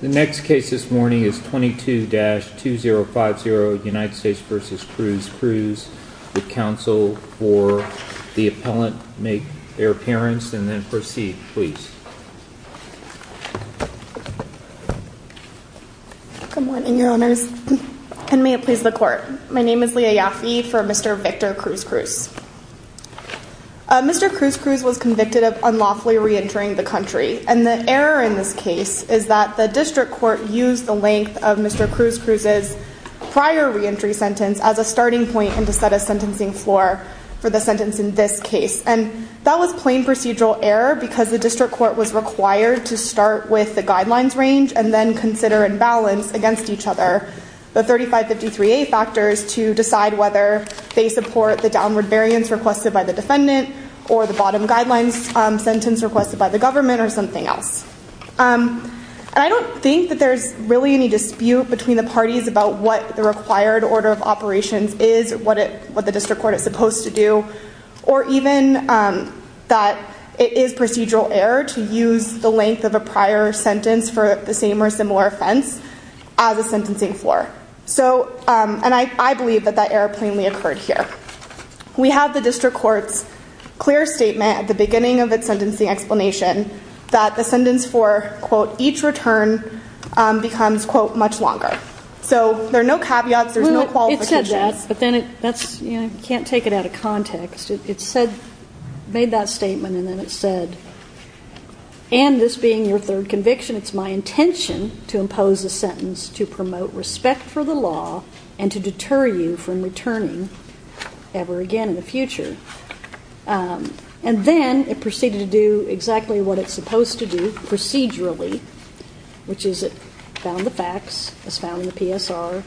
The next case this morning is 22-2050 United States v. Cruz-Cruz. The counsel for the appellant may make their appearance and then proceed. Please. Good morning, your honors. And may it please the court. My name is Leah Yaffe for Mr. Victor Cruz-Cruz. Mr. Cruz-Cruz was convicted of unlawfully re-entering the country. And the error in this case is that the district court used the length of Mr. Cruz-Cruz's prior re-entry sentence as a starting point and to set a sentencing floor for the sentence in this case. And that was plain procedural error because the district court was required to start with the guidelines range and then consider and balance against each other the 3553A factors to decide whether they support the downward variance requested by the defendant or the bottom guidelines sentence requested by the government or something else. And I don't think that there's really any dispute between the parties about what the required order of operations is, what the district court is supposed to do, or even that it is procedural error to use the length of a prior sentence for the same or similar offense as a sentencing floor. So, and I believe that that error plainly occurred here. We have the district court's clear statement at the beginning of its sentencing explanation that the sentence for, quote, each return becomes, quote, much longer. So there are no caveats, there's no qualifications. Well, it said that, but then that's, you know, you can't take it out of context. It said, made that statement and then it said, and this being your third conviction, it's my intention to impose a sentence to promote respect for the law and to deter you from returning ever again in the future. And then it proceeded to do exactly what it's supposed to do procedurally, which is it found the facts as found in the PSR,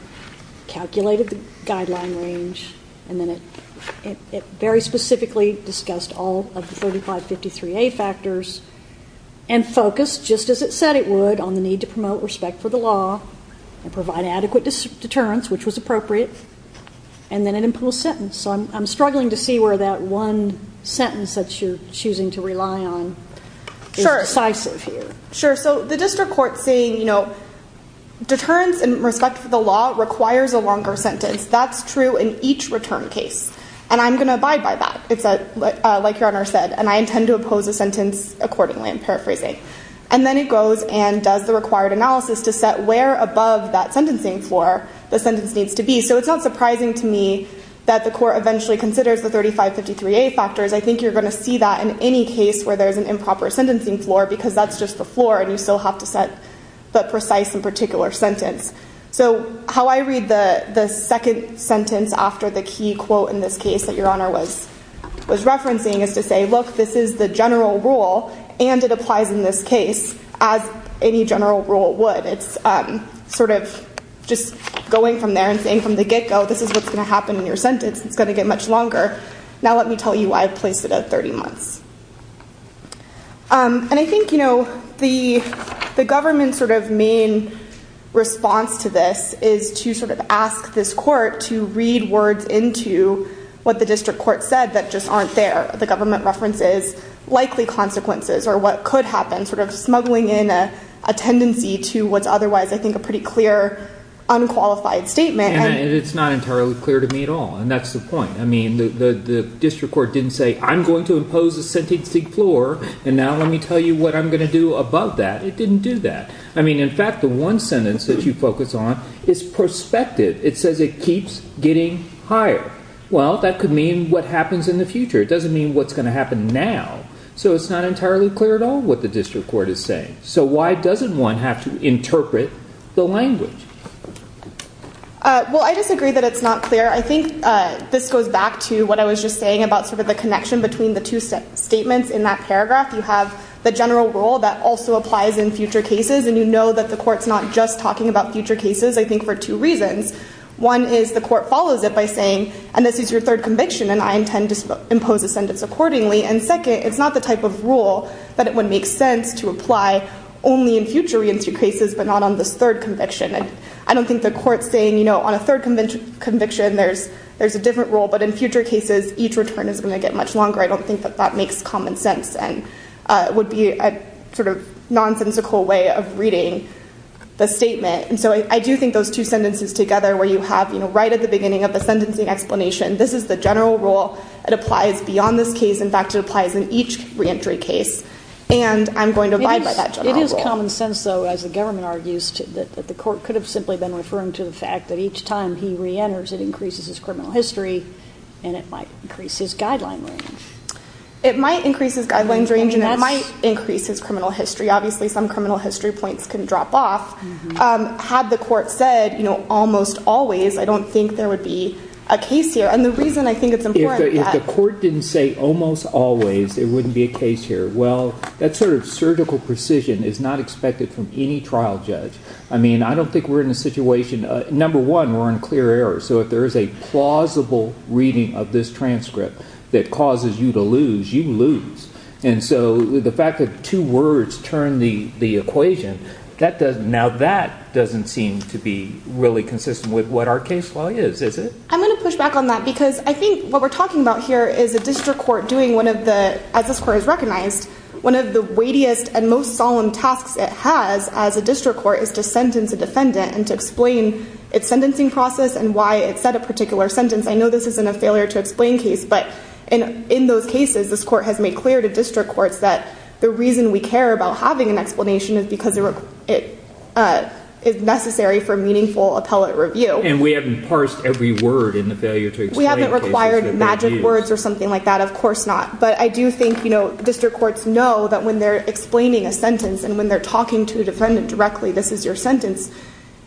calculated the guideline range, and then it very specifically discussed all of the 3553A factors and focused, just as it said it would, on the need to promote respect for the law and provide adequate deterrence, which was appropriate, and then it imposed a sentence. So I'm struggling to see where that one sentence that you're choosing to rely on is decisive here. Sure. So the district court's saying, you know, deterrence in respect for the law requires a longer sentence. That's true in each return case. And I'm going to abide by that, like your Honor said, and I intend to impose a sentence accordingly, I'm paraphrasing. And then it goes and does the required analysis to set where above that sentencing floor the sentence needs to be. So it's not surprising to me that the court eventually considers the 3553A factors. I think you're going to see that in any case where there's an improper sentencing floor because that's just the floor and you still have to set the precise and particular sentence. So how I read the second sentence after the key quote in this case that your Honor was referencing is to say, look, this is the general rule and it applies in this case as any general rule would. It's sort of just going from there and saying from the get-go, this is what's going to happen in your sentence. It's going to get much longer. Now let me tell you why I've placed it at 30 months. And I think the government's sort of main response to this is to sort of ask this court to read words into what the district court said that just aren't there. The government references likely consequences or what could happen, sort of smuggling in a tendency to what's otherwise I think a pretty clear unqualified statement. And it's not entirely clear to me at all. And that's the point. I mean, the district court didn't say I'm going to impose a sentencing floor and now let me tell you what I'm going to do above that. It didn't do that. I mean, in fact, the one sentence that you focus on is prospective. It says it keeps getting higher. Well, that could mean what happens in the future. It doesn't mean what's going to happen now. So it's not entirely clear at all what the district court is saying. So why doesn't one have to interpret the language? Well, I disagree that it's not clear. I think this goes back to what I was just saying about sort of the connection between the two statements in that paragraph. You have the general rule that also applies in future cases. And you know that the court's not just talking about future cases, I think, for two reasons. One is the court follows it by saying, and this is your third conviction, and I intend to impose a sentence accordingly. And second, it's not the type of rule that it would make sense to apply only in future reentry cases, but not on this third conviction. And I don't think the court's saying, you know, on a third conviction, there's a different rule, but in future cases, each return is going to get much longer. I don't think that that makes common sense and would be a sort of nonsensical way of reading the statement. And so I do think those two sentences together, where you have, you know, right at the beginning of the sentencing explanation, this is the general rule. It applies beyond this case. In fact, it applies in each reentry case. And I'm going to abide by that general rule. It is common sense, though, as the government argues, that the court could have simply been referring to the fact that each time he reenters, it increases his criminal history and it might increase his guideline range. It might increase his guidelines range and it might increase his criminal history. Obviously, some criminal history points can drop off. Had the court said, you know, almost always, I don't think there would be a case here. And the reason I think it's important is the court didn't say almost always it wouldn't be a case here. Well, that sort of surgical precision is not expected from any trial judge. I mean, I don't think we're in a situation. Number one, we're in clear error. So if there is a plausible reading of this transcript that causes you to lose, you lose. And so the fact that two words turn the equation, now that doesn't seem to be really consistent with what our case law is, is it? I'm going to push back on that because I think what we're talking about here is a district court doing one of the, as this court has recognized, one of the weightiest and most solemn tasks it has as a district court is to sentence a defendant and to explain its sentencing process and why it said a particular sentence. I know this isn't a failure to explain case, but in those cases, this court has made clear to district courts that the reason we care about having an explanation is because it is necessary for meaningful appellate review. And we haven't parsed every word in the failure to explain case. We haven't required magic words or something like that. Of course not. But I do think, you know, district courts know that when they're explaining a sentence and when they're talking to a defendant directly, this is your sentence,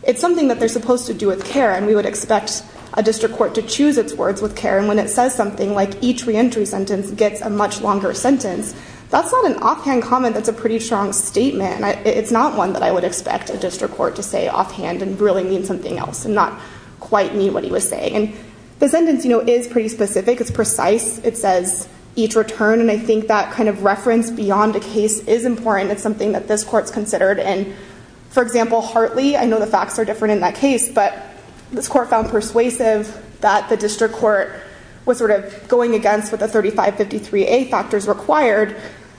it's something that they're supposed to do with care. And we would expect a district court to choose its words with care. And when it says something like each reentry sentence gets a much longer sentence, that's not an offhand comment that's a pretty strong statement. It's not one that I would expect a district court to say offhand and really mean something else and not quite mean what he was saying. And the sentence, you know, is pretty specific. It's precise. It says each return. And I think that kind of reference beyond a case is important. It's something that this court's considered. And, for example, Hartley, I know the facts are different in that case, but this court found persuasive that the district court was sort of going against what the 3553A factors required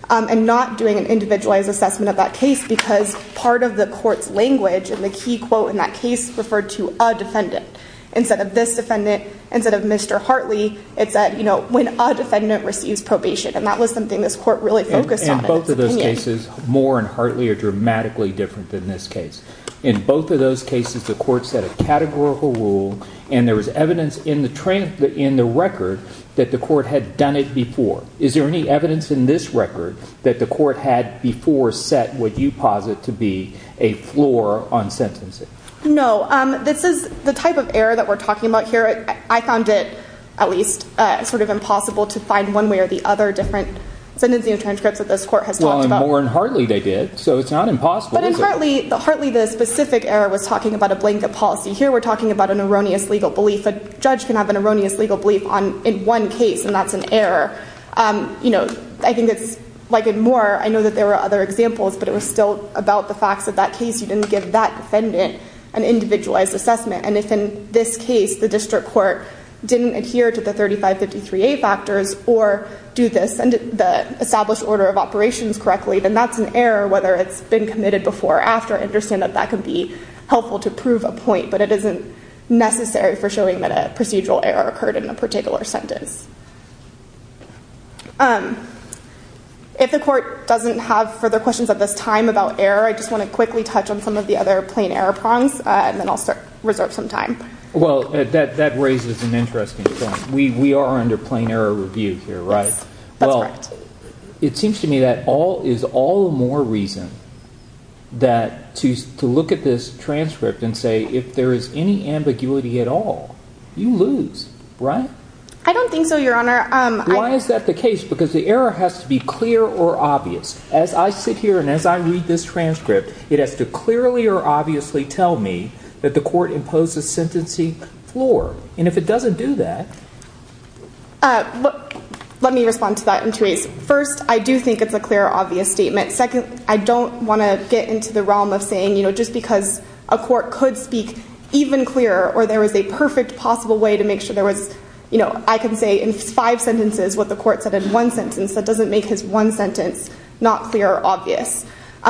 and not doing an individualized assessment of that case because part of the court's language and the key quote in that case referred to a defendant. Instead of this defendant, instead of Mr. Hartley, it said, you know, when a defendant receives probation. And that was something this court really focused on. In both of those cases, Moore and Hartley are dramatically different than this case. In both of those cases, the court set a categorical rule and there was evidence in the record that the court had done it before. Is there any evidence in this record that the court had before set what you posit to be a floor on sentencing? No. This is the type of error that we're talking about here. I found it at least sort of impossible to find one way or the other different sentencing transcripts that this court has talked about. Well, in Moore and Hartley they did, so it's not impossible. But in Hartley, Hartley, the specific error was talking about a blanket policy. Here we're talking about an erroneous legal belief. A judge can have an erroneous legal belief in one case and that's an error. You know, I think it's like in Moore, I know that there were other examples, but it was still about the facts of that case. You didn't give that defendant an individualized assessment. And if in this case the district court didn't adhere to the 3553A factors or do this and the established order of operations correctly, then that's an error whether it's been committed before or after. I understand that that could be helpful to prove a point, but it isn't necessary for showing that a procedural error occurred in a particular sentence. If the court doesn't have further questions at this time about error, I just want to quickly touch on some of the other plain error prongs and then I'll reserve some time. Well, that raises an interesting point. We are under plain error review here, right? Yes, that's right. Well, it seems to me that all is all the more reason that to look at this transcript and say if there is any ambiguity at all, you lose, right? I don't think so, Your Honor. Why is that the case? Because the error has to be clear or obvious. As I sit here and as I read this transcript, it has to clearly or obviously tell me that the court imposed a sentencing floor. And if it doesn't do that. Let me respond to that, and, Therese. First, I do think it's a clear or obvious statement. Second, I don't want to get into the realm of saying, you know, just because a court could speak even clearer or there was a perfect possible way to make sure there was, you know, I can say in five sentences what the court said in one sentence. That doesn't make his one sentence not clear or obvious.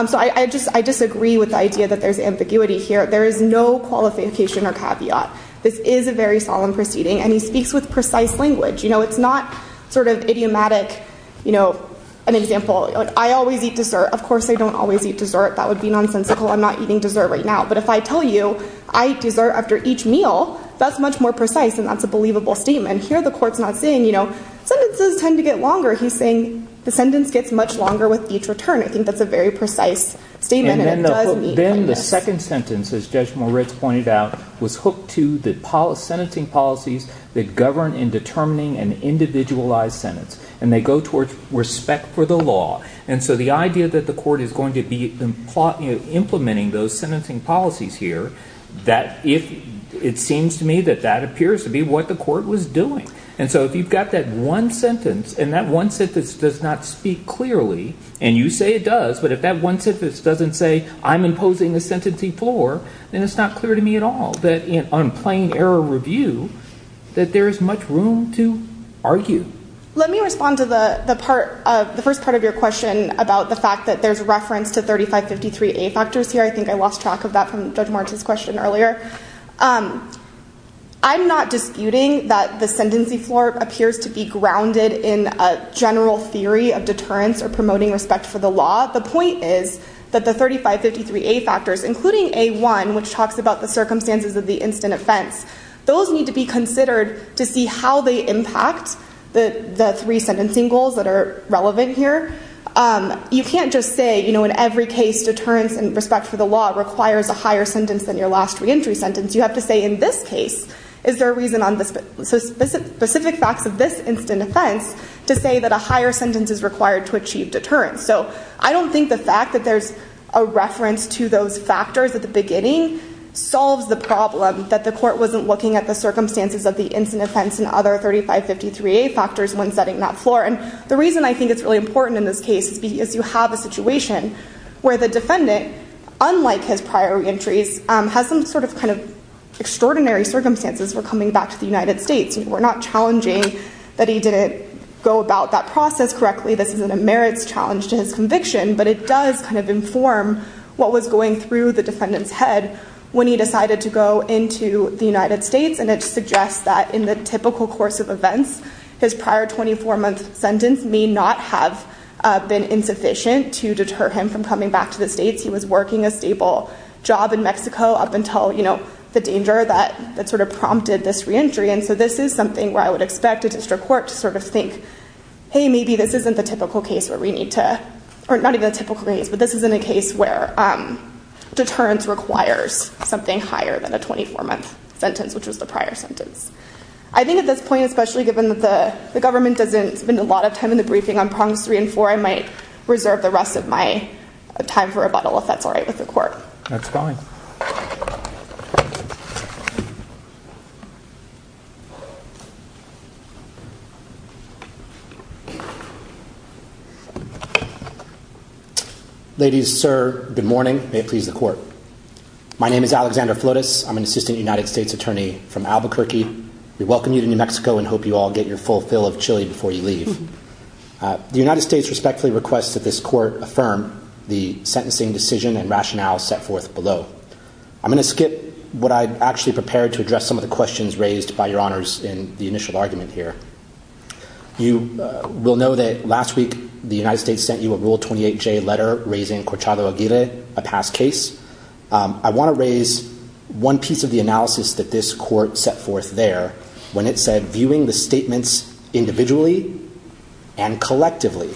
So I disagree with the idea that there's ambiguity here. There is no qualification or caveat. This is a very solemn proceeding, and he speaks with precise language. You know, it's not sort of idiomatic, you know, an example. I always eat dessert. Of course, I don't always eat dessert. That would be nonsensical. I'm not eating dessert right now. But if I tell you I eat dessert after each meal, that's much more precise, and that's a believable statement. Here the court's not saying, you know, sentences tend to get longer. He's saying the sentence gets much longer with each return. I think that's a very precise statement, and it does mean something. And then the second sentence, as Judge Moritz pointed out, was hooked to the sentencing policies that govern in determining an individualized sentence, and they go towards respect for the law. And so the idea that the court is going to be implementing those sentencing policies here, it seems to me that that appears to be what the court was doing. And so if you've got that one sentence, and that one sentence does not speak clearly, and you say it does, but if that one sentence doesn't say I'm imposing a sentencing floor, then it's not clear to me at all that on plain error review that there is much room to argue. Let me respond to the first part of your question about the fact that there's reference to 3553A factors here. I think I lost track of that from Judge Moritz's question earlier. I'm not disputing that the sentencing floor appears to be grounded in a general theory of deterrence or promoting respect for the law. The point is that the 3553A factors, including A1, which talks about the circumstances of the instant offense, those need to be considered to see how they impact the three sentencing goals that are relevant here. You can't just say in every case deterrence in respect for the law requires a higher sentence than your last reentry sentence. You have to say in this case, is there a reason on the specific facts of this instant offense to say that a higher sentence is required to achieve deterrence? So I don't think the fact that there's a reference to those factors at the beginning solves the problem that the court wasn't looking at the circumstances of the instant offense and other 3553A factors when setting that floor. And the reason I think it's really important in this case is because you have a situation where the defendant, unlike his prior reentries, has some sort of extraordinary circumstances for coming back to the United States. We're not challenging that he didn't go about that process correctly. This isn't a merits challenge to his conviction. But it does inform what was going through the defendant's head when he decided to go into the United States. And it suggests that in the typical course of events, his prior 24-month sentence may not have been insufficient to deter him from coming back to the States. He was working a stable job in Mexico up until, you know, the danger that sort of prompted this reentry. And so this is something where I would expect a district court to sort of think, hey, maybe this isn't the typical case where we need to, or not even a typical case, but this isn't a case where deterrence requires something higher than a 24-month sentence, which was the prior sentence. I think at this point, especially given that the government doesn't spend a lot of time in the briefing on prongs three and four, I might reserve the rest of my time for rebuttal if that's all right with the court. Next comment. Ladies, sir, good morning. May it please the court. My name is Alexander Flotis. I'm an assistant United States attorney from Albuquerque. We welcome you to New Mexico and hope you all get your full fill of chili before you leave. The United States respectfully requests that this court affirm the sentencing decision and rationale set forth below. I'm going to skip what I actually prepared to address some of the questions raised by your honors in the initial argument here. You will know that last week the United States sent you a Rule 28J letter raising Corchado Aguirre, a past case. I want to raise one piece of the analysis that this court set forth there, when it said viewing the statements individually and collectively,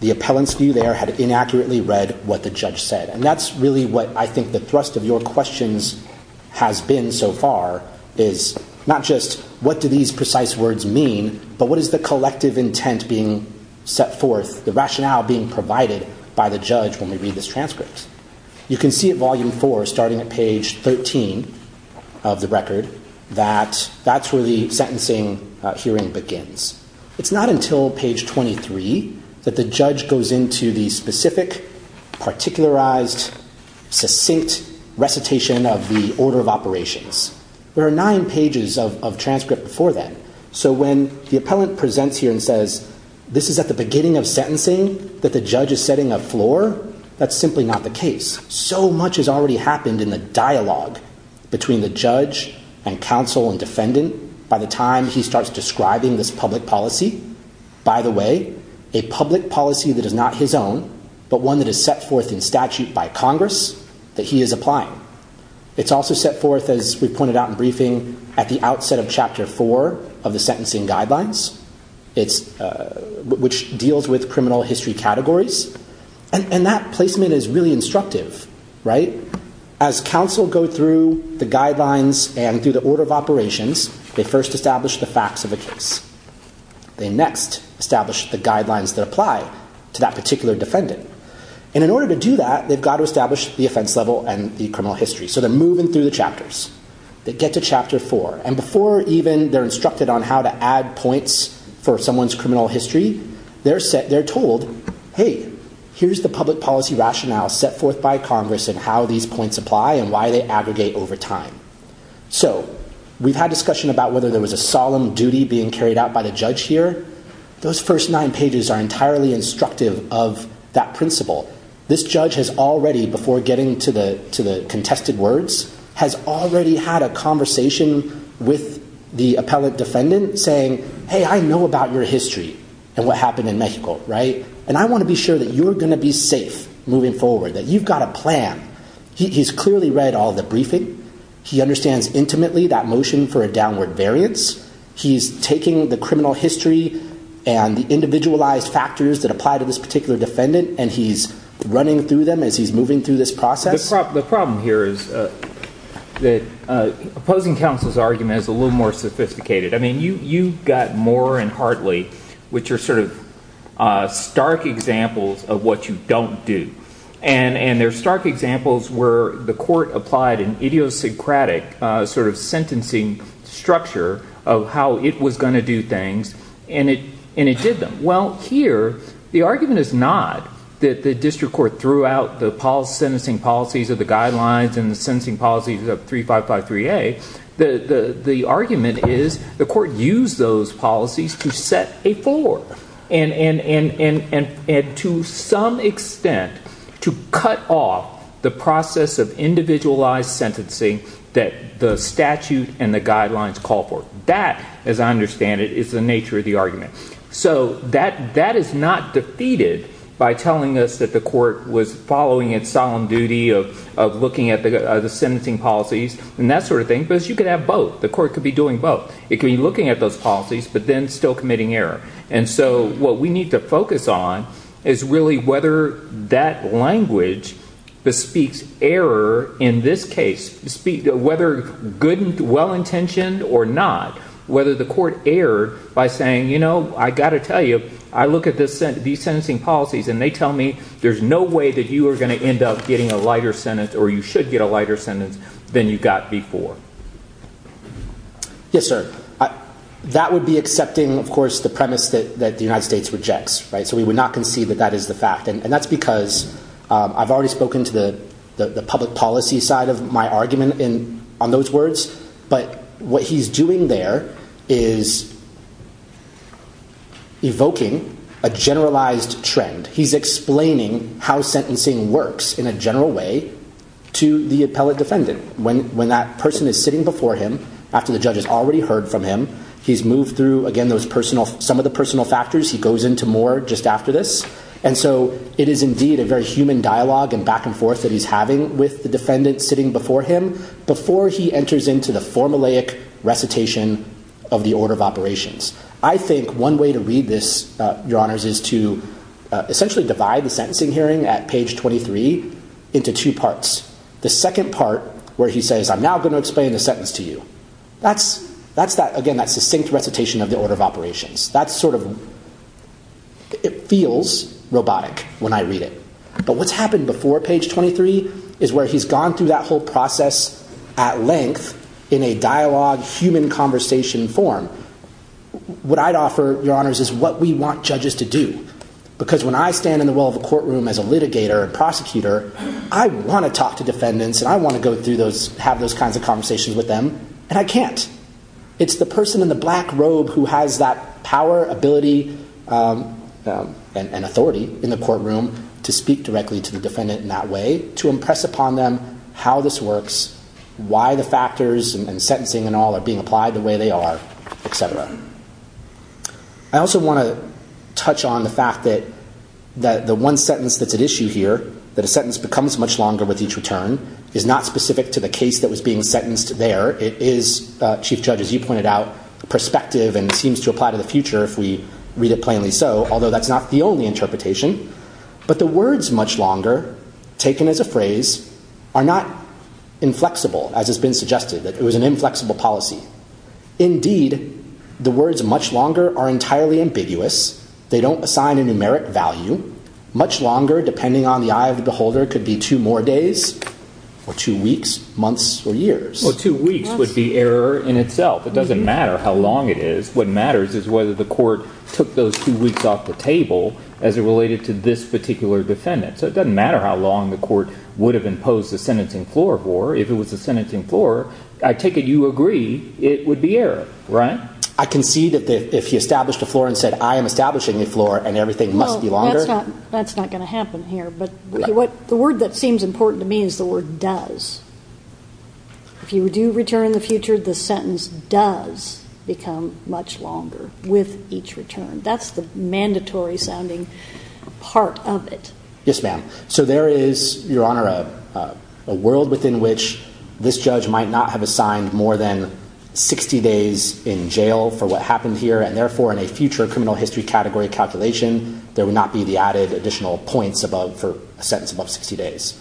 the appellant's view there had inaccurately read what the judge said. And that's really what I think the thrust of your questions has been so far is not just what do these precise words mean, but what is the collective intent being set forth, the rationale being provided by the judge when we read this transcript. You can see at volume four, starting at page 13 of the record, that that's where the sentencing hearing begins. It's not until page 23 that the judge goes into the specific, particularized, succinct recitation of the order of operations. There are nine pages of transcript before that. So when the appellant presents here and says this is at the beginning of sentencing that the judge is setting a floor, that's simply not the case. So much has already happened in the dialogue between the judge and counsel and defendant by the time he starts describing this public policy. By the way, a public policy that is not his own, but one that is set forth in statute by Congress that he is applying. It's also set forth, as we pointed out in briefing, at the outset of chapter four of the sentencing guidelines, which deals with criminal history categories. And that placement is really instructive, right? As counsel go through the guidelines and through the order of operations, they first establish the facts of the case. They next establish the guidelines that apply to that particular defendant. And in order to do that, they've got to establish the offense level and the criminal history. So they're moving through the chapters. They get to chapter four. And before even they're instructed on how to add points for someone's criminal history, they're told, hey, here's the public policy rationale set forth by Congress and how these points apply and why they aggregate over time. So we've had discussion about whether there was a solemn duty being carried out by the judge here. Those first nine pages are entirely instructive of that principle. This judge has already, before getting to the contested words, has already had a conversation with the appellate defendant saying, hey, I know about your history and what happened in Mexico, right? And I want to be sure that you're going to be safe moving forward, that you've got a plan. He's clearly read all the briefing. He understands intimately that motion for a downward variance. He's taking the criminal history and the individualized factors that apply to this particular defendant, and he's running through them as he's moving through this process. The problem here is that opposing counsel's argument is a little more sophisticated. I mean, you've got Moore and Hartley, which are sort of stark examples of what you don't do. And they're stark examples where the court applied an idiosyncratic sort of sentencing structure of how it was going to do things, and it did them. Well, here the argument is not that the district court threw out the sentencing policies of the guidelines and the sentencing policies of 3553A. The argument is the court used those policies to set a floor and to some extent to cut off the process of individualized sentencing that the statute and the guidelines call for. That, as I understand it, is the nature of the argument. So that is not defeated by telling us that the court was following its solemn duty of looking at the sentencing policies and that sort of thing, because you could have both. The court could be doing both. It could be looking at those policies but then still committing error. And so what we need to focus on is really whether that language bespeaks error in this case, whether well-intentioned or not, whether the court erred by saying, you know, I've got to tell you, I look at these sentencing policies and they tell me there's no way that you are going to end up getting a lighter sentence or you should get a lighter sentence than you got before. Yes, sir. That would be accepting, of course, the premise that the United States rejects. So we would not concede that that is the fact. And that's because I've already spoken to the public policy side of my argument on those words. But what he's doing there is evoking a generalized trend. He's explaining how sentencing works in a general way to the appellate defendant. When that person is sitting before him after the judge has already heard from him, he's moved through, again, some of the personal factors. He goes into more just after this. And so it is indeed a very human dialogue and back and forth that he's having with the defendant sitting before him before he enters into the formulaic recitation of the order of operations. I think one way to read this, Your Honors, is to essentially divide the sentencing hearing at page 23 into two parts. The second part where he says, I'm now going to explain the sentence to you. That's, again, that succinct recitation of the order of operations. That's sort of, it feels robotic when I read it. But what's happened before page 23 is where he's gone through that whole process at length in a dialogue, human conversation form. What I'd offer, Your Honors, is what we want judges to do. Because when I stand in the well of a courtroom as a litigator and prosecutor, I want to talk to defendants and I want to go through those, have those kinds of conversations with them. And I can't. It's the person in the black robe who has that power, ability, and authority in the courtroom to speak directly to the defendant in that way, to impress upon them how this works, why the factors and sentencing and all are being applied the way they are, etc. I also want to touch on the fact that the one sentence that's at issue here, that a sentence becomes much longer with each return, is not specific to the case that was being sentenced there. It is, Chief Judge, as you pointed out, perspective and seems to apply to the future if we read it plainly so, although that's not the only interpretation. But the words, much longer, taken as a phrase, are not inflexible, as has been suggested, that it was an inflexible policy. Indeed, the words much longer are entirely ambiguous. They don't assign a numeric value. Much longer, depending on the eye of the beholder, could be two more days or two weeks, months, or years. Well, two weeks would be error in itself. It doesn't matter how long it is. What matters is whether the court took those two weeks off the table as it related to this particular defendant. So it doesn't matter how long the court would have imposed the sentencing floor for. If it was a sentencing floor, I take it you agree it would be error, right? I concede that if he established a floor and said, I am establishing a floor and everything must be longer. Well, that's not going to happen here. But the word that seems important to me is the word does. If you do return in the future, the sentence does become much longer with each return. That's the mandatory-sounding part of it. Yes, ma'am. So there is, Your Honor, a world within which this judge might not have assigned more than 60 days in jail for what happened here. And therefore, in a future criminal history category calculation, there would not be the added additional points above for a sentence above 60 days.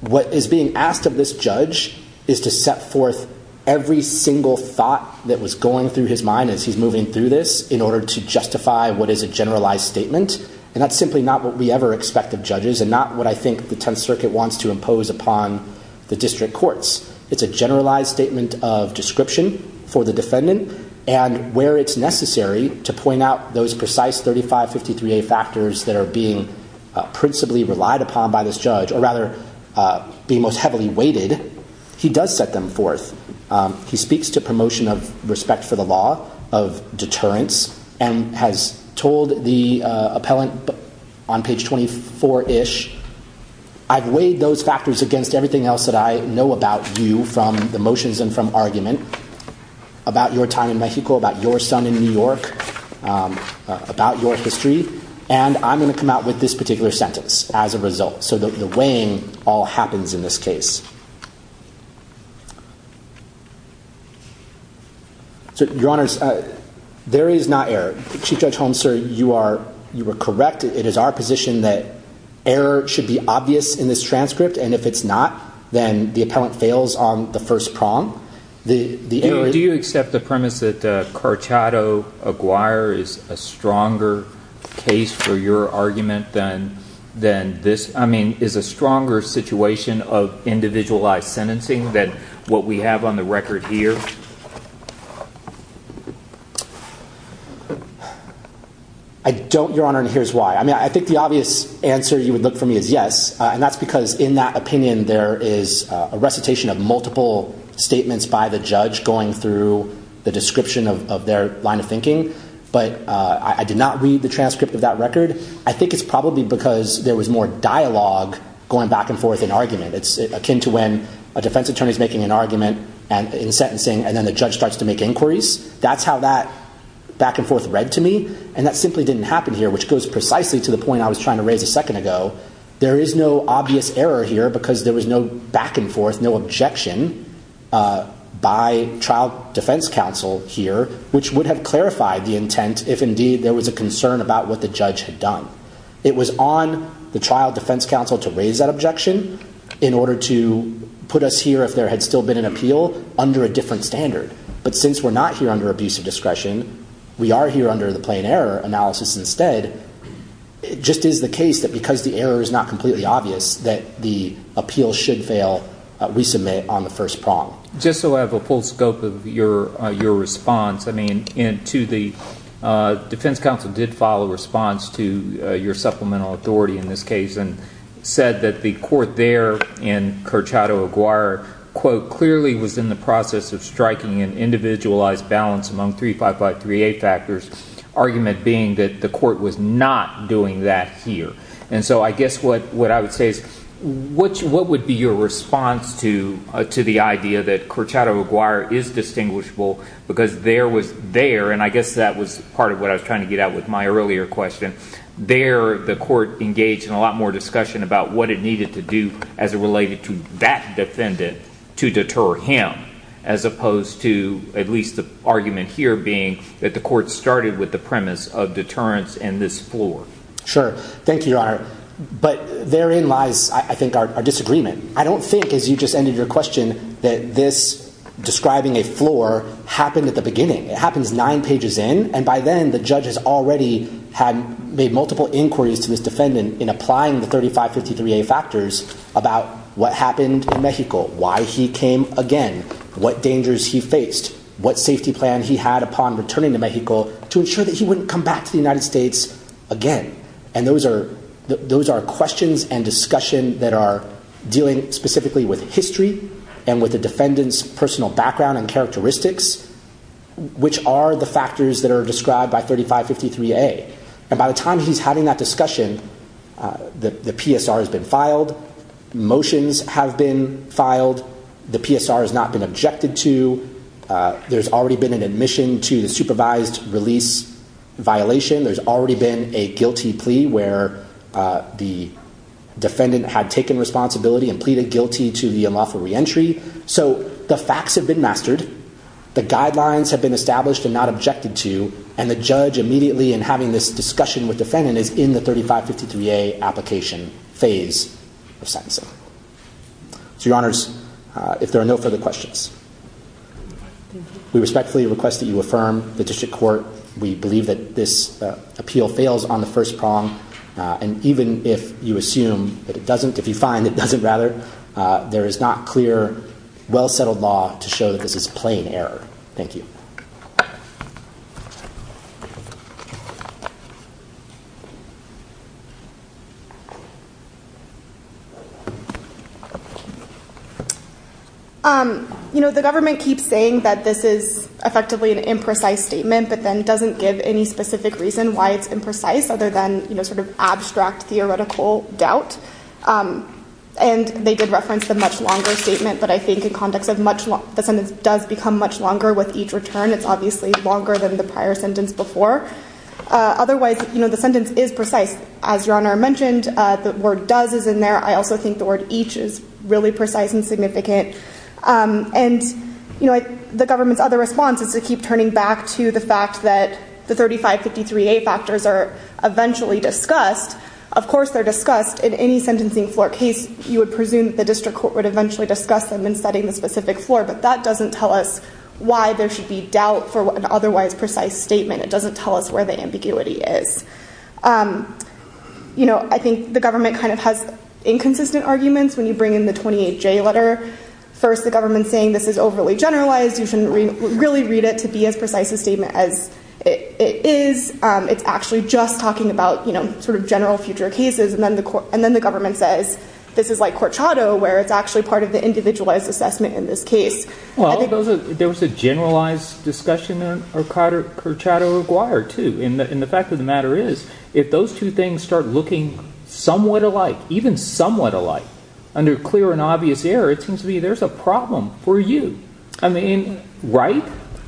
What is being asked of this judge is to set forth every single thought that was going through his mind as he's moving through this in order to justify what is a generalized statement. And that's simply not what we ever expect of judges and not what I think the Tenth Circuit wants to impose upon the district courts. It's a generalized statement of description for the defendant. And where it's necessary to point out those precise 3553A factors that are being principally relied upon by this judge, or rather being most heavily weighted, he does set them forth. He speaks to promotion of respect for the law, of deterrence, and has told the appellant on page 24-ish, I've weighed those factors against everything else that I know about you from the motions and from argument about your time in Mexico, about your son in New York, about your history. And I'm going to come out with this particular sentence as a result. So the weighing all happens in this case. Your Honor, there is not error. Chief Judge Holmes, sir, you are correct. It is our position that error should be obvious in this transcript. And if it's not, then the appellant fails on the first prong. Do you accept the premise that Carchado-Aguirre is a stronger case for your argument than this? I mean, is a stronger situation of individualized sentencing than what we have on the record here? I don't, Your Honor, and here's why. I mean, I think the obvious answer you would look for me is yes. And that's because in that opinion, there is a recitation of multiple statements by the judge going through the description of their line of thinking. But I did not read the transcript of that record. I think it's probably because there was more dialogue going back and forth in argument. It's akin to when a defense attorney is making an argument in sentencing, and then the judge starts to make inquiries. That's how that back and forth read to me. And that simply didn't happen here, which goes precisely to the point I was trying to raise a second ago. There is no obvious error here because there was no back and forth, no objection by trial defense counsel here, which would have clarified the intent if indeed there was a concern about what the judge had done. It was on the trial defense counsel to raise that objection in order to put us here, if there had still been an appeal, under a different standard. But since we're not here under abusive discretion, we are here under the plain error analysis instead. It just is the case that because the error is not completely obvious that the appeal should fail, we submit on the first prong. Just so I have a full scope of your response, I mean, to the defense counsel did file a response to your supplemental authority in this case and said that the court there in Curchato Aguirre, quote, clearly was in the process of striking an individualized balance among 3553A factors, argument being that the court was not doing that here. And so I guess what I would say is what would be your response to the idea that Curchato Aguirre is distinguishable because there was there, and I guess that was part of what I was trying to get at with my earlier question, there the court engaged in a lot more discussion about what it needed to do as it related to that defendant to deter him, as opposed to at least the argument here being that the court started with the premise of deterrence in this floor. Sure. Thank you, Your Honor. But therein lies, I think, our disagreement. I don't think, as you just ended your question, that this describing a floor happened at the beginning. It happens nine pages in, and by then the judge has already made multiple inquiries to this defendant in applying the 3553A factors about what happened in Mexico, why he came again, what dangers he faced, what safety plan he had upon returning to Mexico to ensure that he wouldn't come back to the United States again. And those are questions and discussion that are dealing specifically with history and with the defendant's personal background and characteristics, which are the factors that are described by 3553A. And by the time he's having that discussion, the PSR has been filed. Motions have been filed. The PSR has not been objected to. There's already been an admission to the supervised release violation. There's already been a guilty plea where the defendant had taken responsibility and pleaded guilty to the unlawful reentry. So the facts have been mastered. The guidelines have been established and not objected to. And the judge immediately, in having this discussion with defendant, is in the 3553A application phase of sentencing. So, Your Honors, if there are no further questions, we respectfully request that you affirm the district court. We believe that this appeal fails on the first prong. And even if you assume that it doesn't, if you find it doesn't, rather, there is not clear, well-settled law to show that this is plain error. Thank you. Thank you. You know, the government keeps saying that this is effectively an imprecise statement, but then doesn't give any specific reason why it's imprecise other than, you know, sort of abstract theoretical doubt. And they did reference the much longer statement, but I think in context of the sentence does become much longer with each return, it's obviously longer than the prior sentence before. Otherwise, you know, the sentence is precise. As Your Honor mentioned, the word does is in there. I also think the word each is really precise and significant. And, you know, the government's other response is to keep turning back to the fact that the 3553A factors are eventually discussed. Of course they're discussed. In any sentencing floor case, you would presume that the district court would eventually discuss them in setting the specific floor. But that doesn't tell us why there should be doubt for an otherwise precise statement. It doesn't tell us where the ambiguity is. You know, I think the government kind of has inconsistent arguments when you bring in the 28J letter. First, the government's saying this is overly generalized. You shouldn't really read it to be as precise a statement as it is. It's actually just talking about, you know, sort of general future cases. And then the government says this is like court shadow where it's actually part of the individualized assessment in this case. Well, there was a generalized discussion on court shadow required, too. And the fact of the matter is if those two things start looking somewhat alike, even somewhat alike, under clear and obvious error, it seems to me there's a problem for you. I mean, right?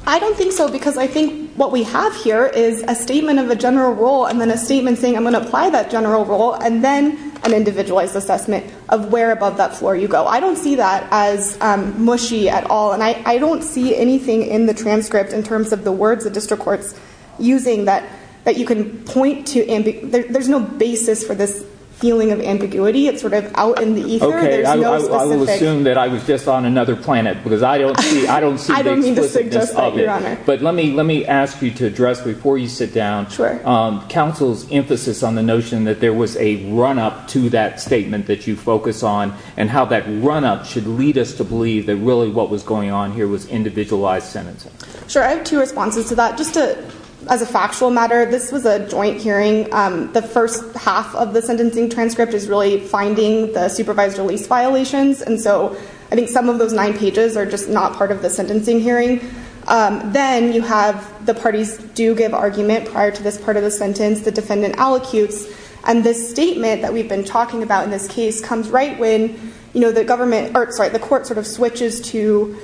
I don't think so because I think what we have here is a statement of a general rule and then a statement saying I'm going to apply that general rule. And then an individualized assessment of where above that floor you go. I don't see that as mushy at all. And I don't see anything in the transcript in terms of the words the district court's using that you can point to. There's no basis for this feeling of ambiguity. It's sort of out in the ether. I will assume that I was just on another planet because I don't see the explicitness of it. I don't mean to suggest that, Your Honor. But let me ask you to address before you sit down. Sure. Counsel's emphasis on the notion that there was a run-up to that statement that you focus on and how that run-up should lead us to believe that really what was going on here was individualized sentencing. Sure. I have two responses to that. Just as a factual matter, this was a joint hearing. The first half of the sentencing transcript is really finding the supervised release violations. And so I think some of those nine pages are just not part of the sentencing hearing. Then you have the parties do give argument prior to this part of the sentence. The defendant allocutes. And this statement that we've been talking about in this case comes right when the court sort of switches to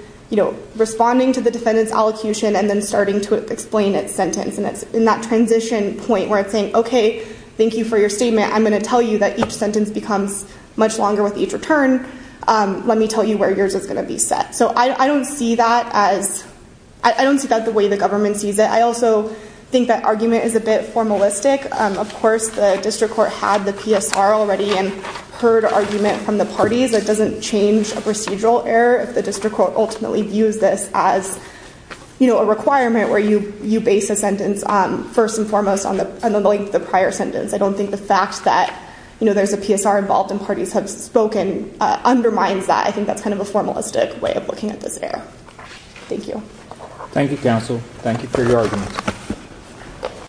responding to the defendant's allocution and then starting to explain its sentence. And it's in that transition point where it's saying, okay, thank you for your statement. I'm going to tell you that each sentence becomes much longer with each return. Let me tell you where yours is going to be set. So I don't see that as – I don't see that the way the government sees it. I also think that argument is a bit formalistic. Of course, the district court had the PSR already and heard argument from the parties. It doesn't change a procedural error if the district court ultimately views this as a requirement where you base a sentence first and foremost on the length of the prior sentence. I don't think the fact that there's a PSR involved and parties have spoken undermines that. I think that's kind of a formalistic way of looking at this error. Thank you. Thank you, counsel. Thank you for your argument.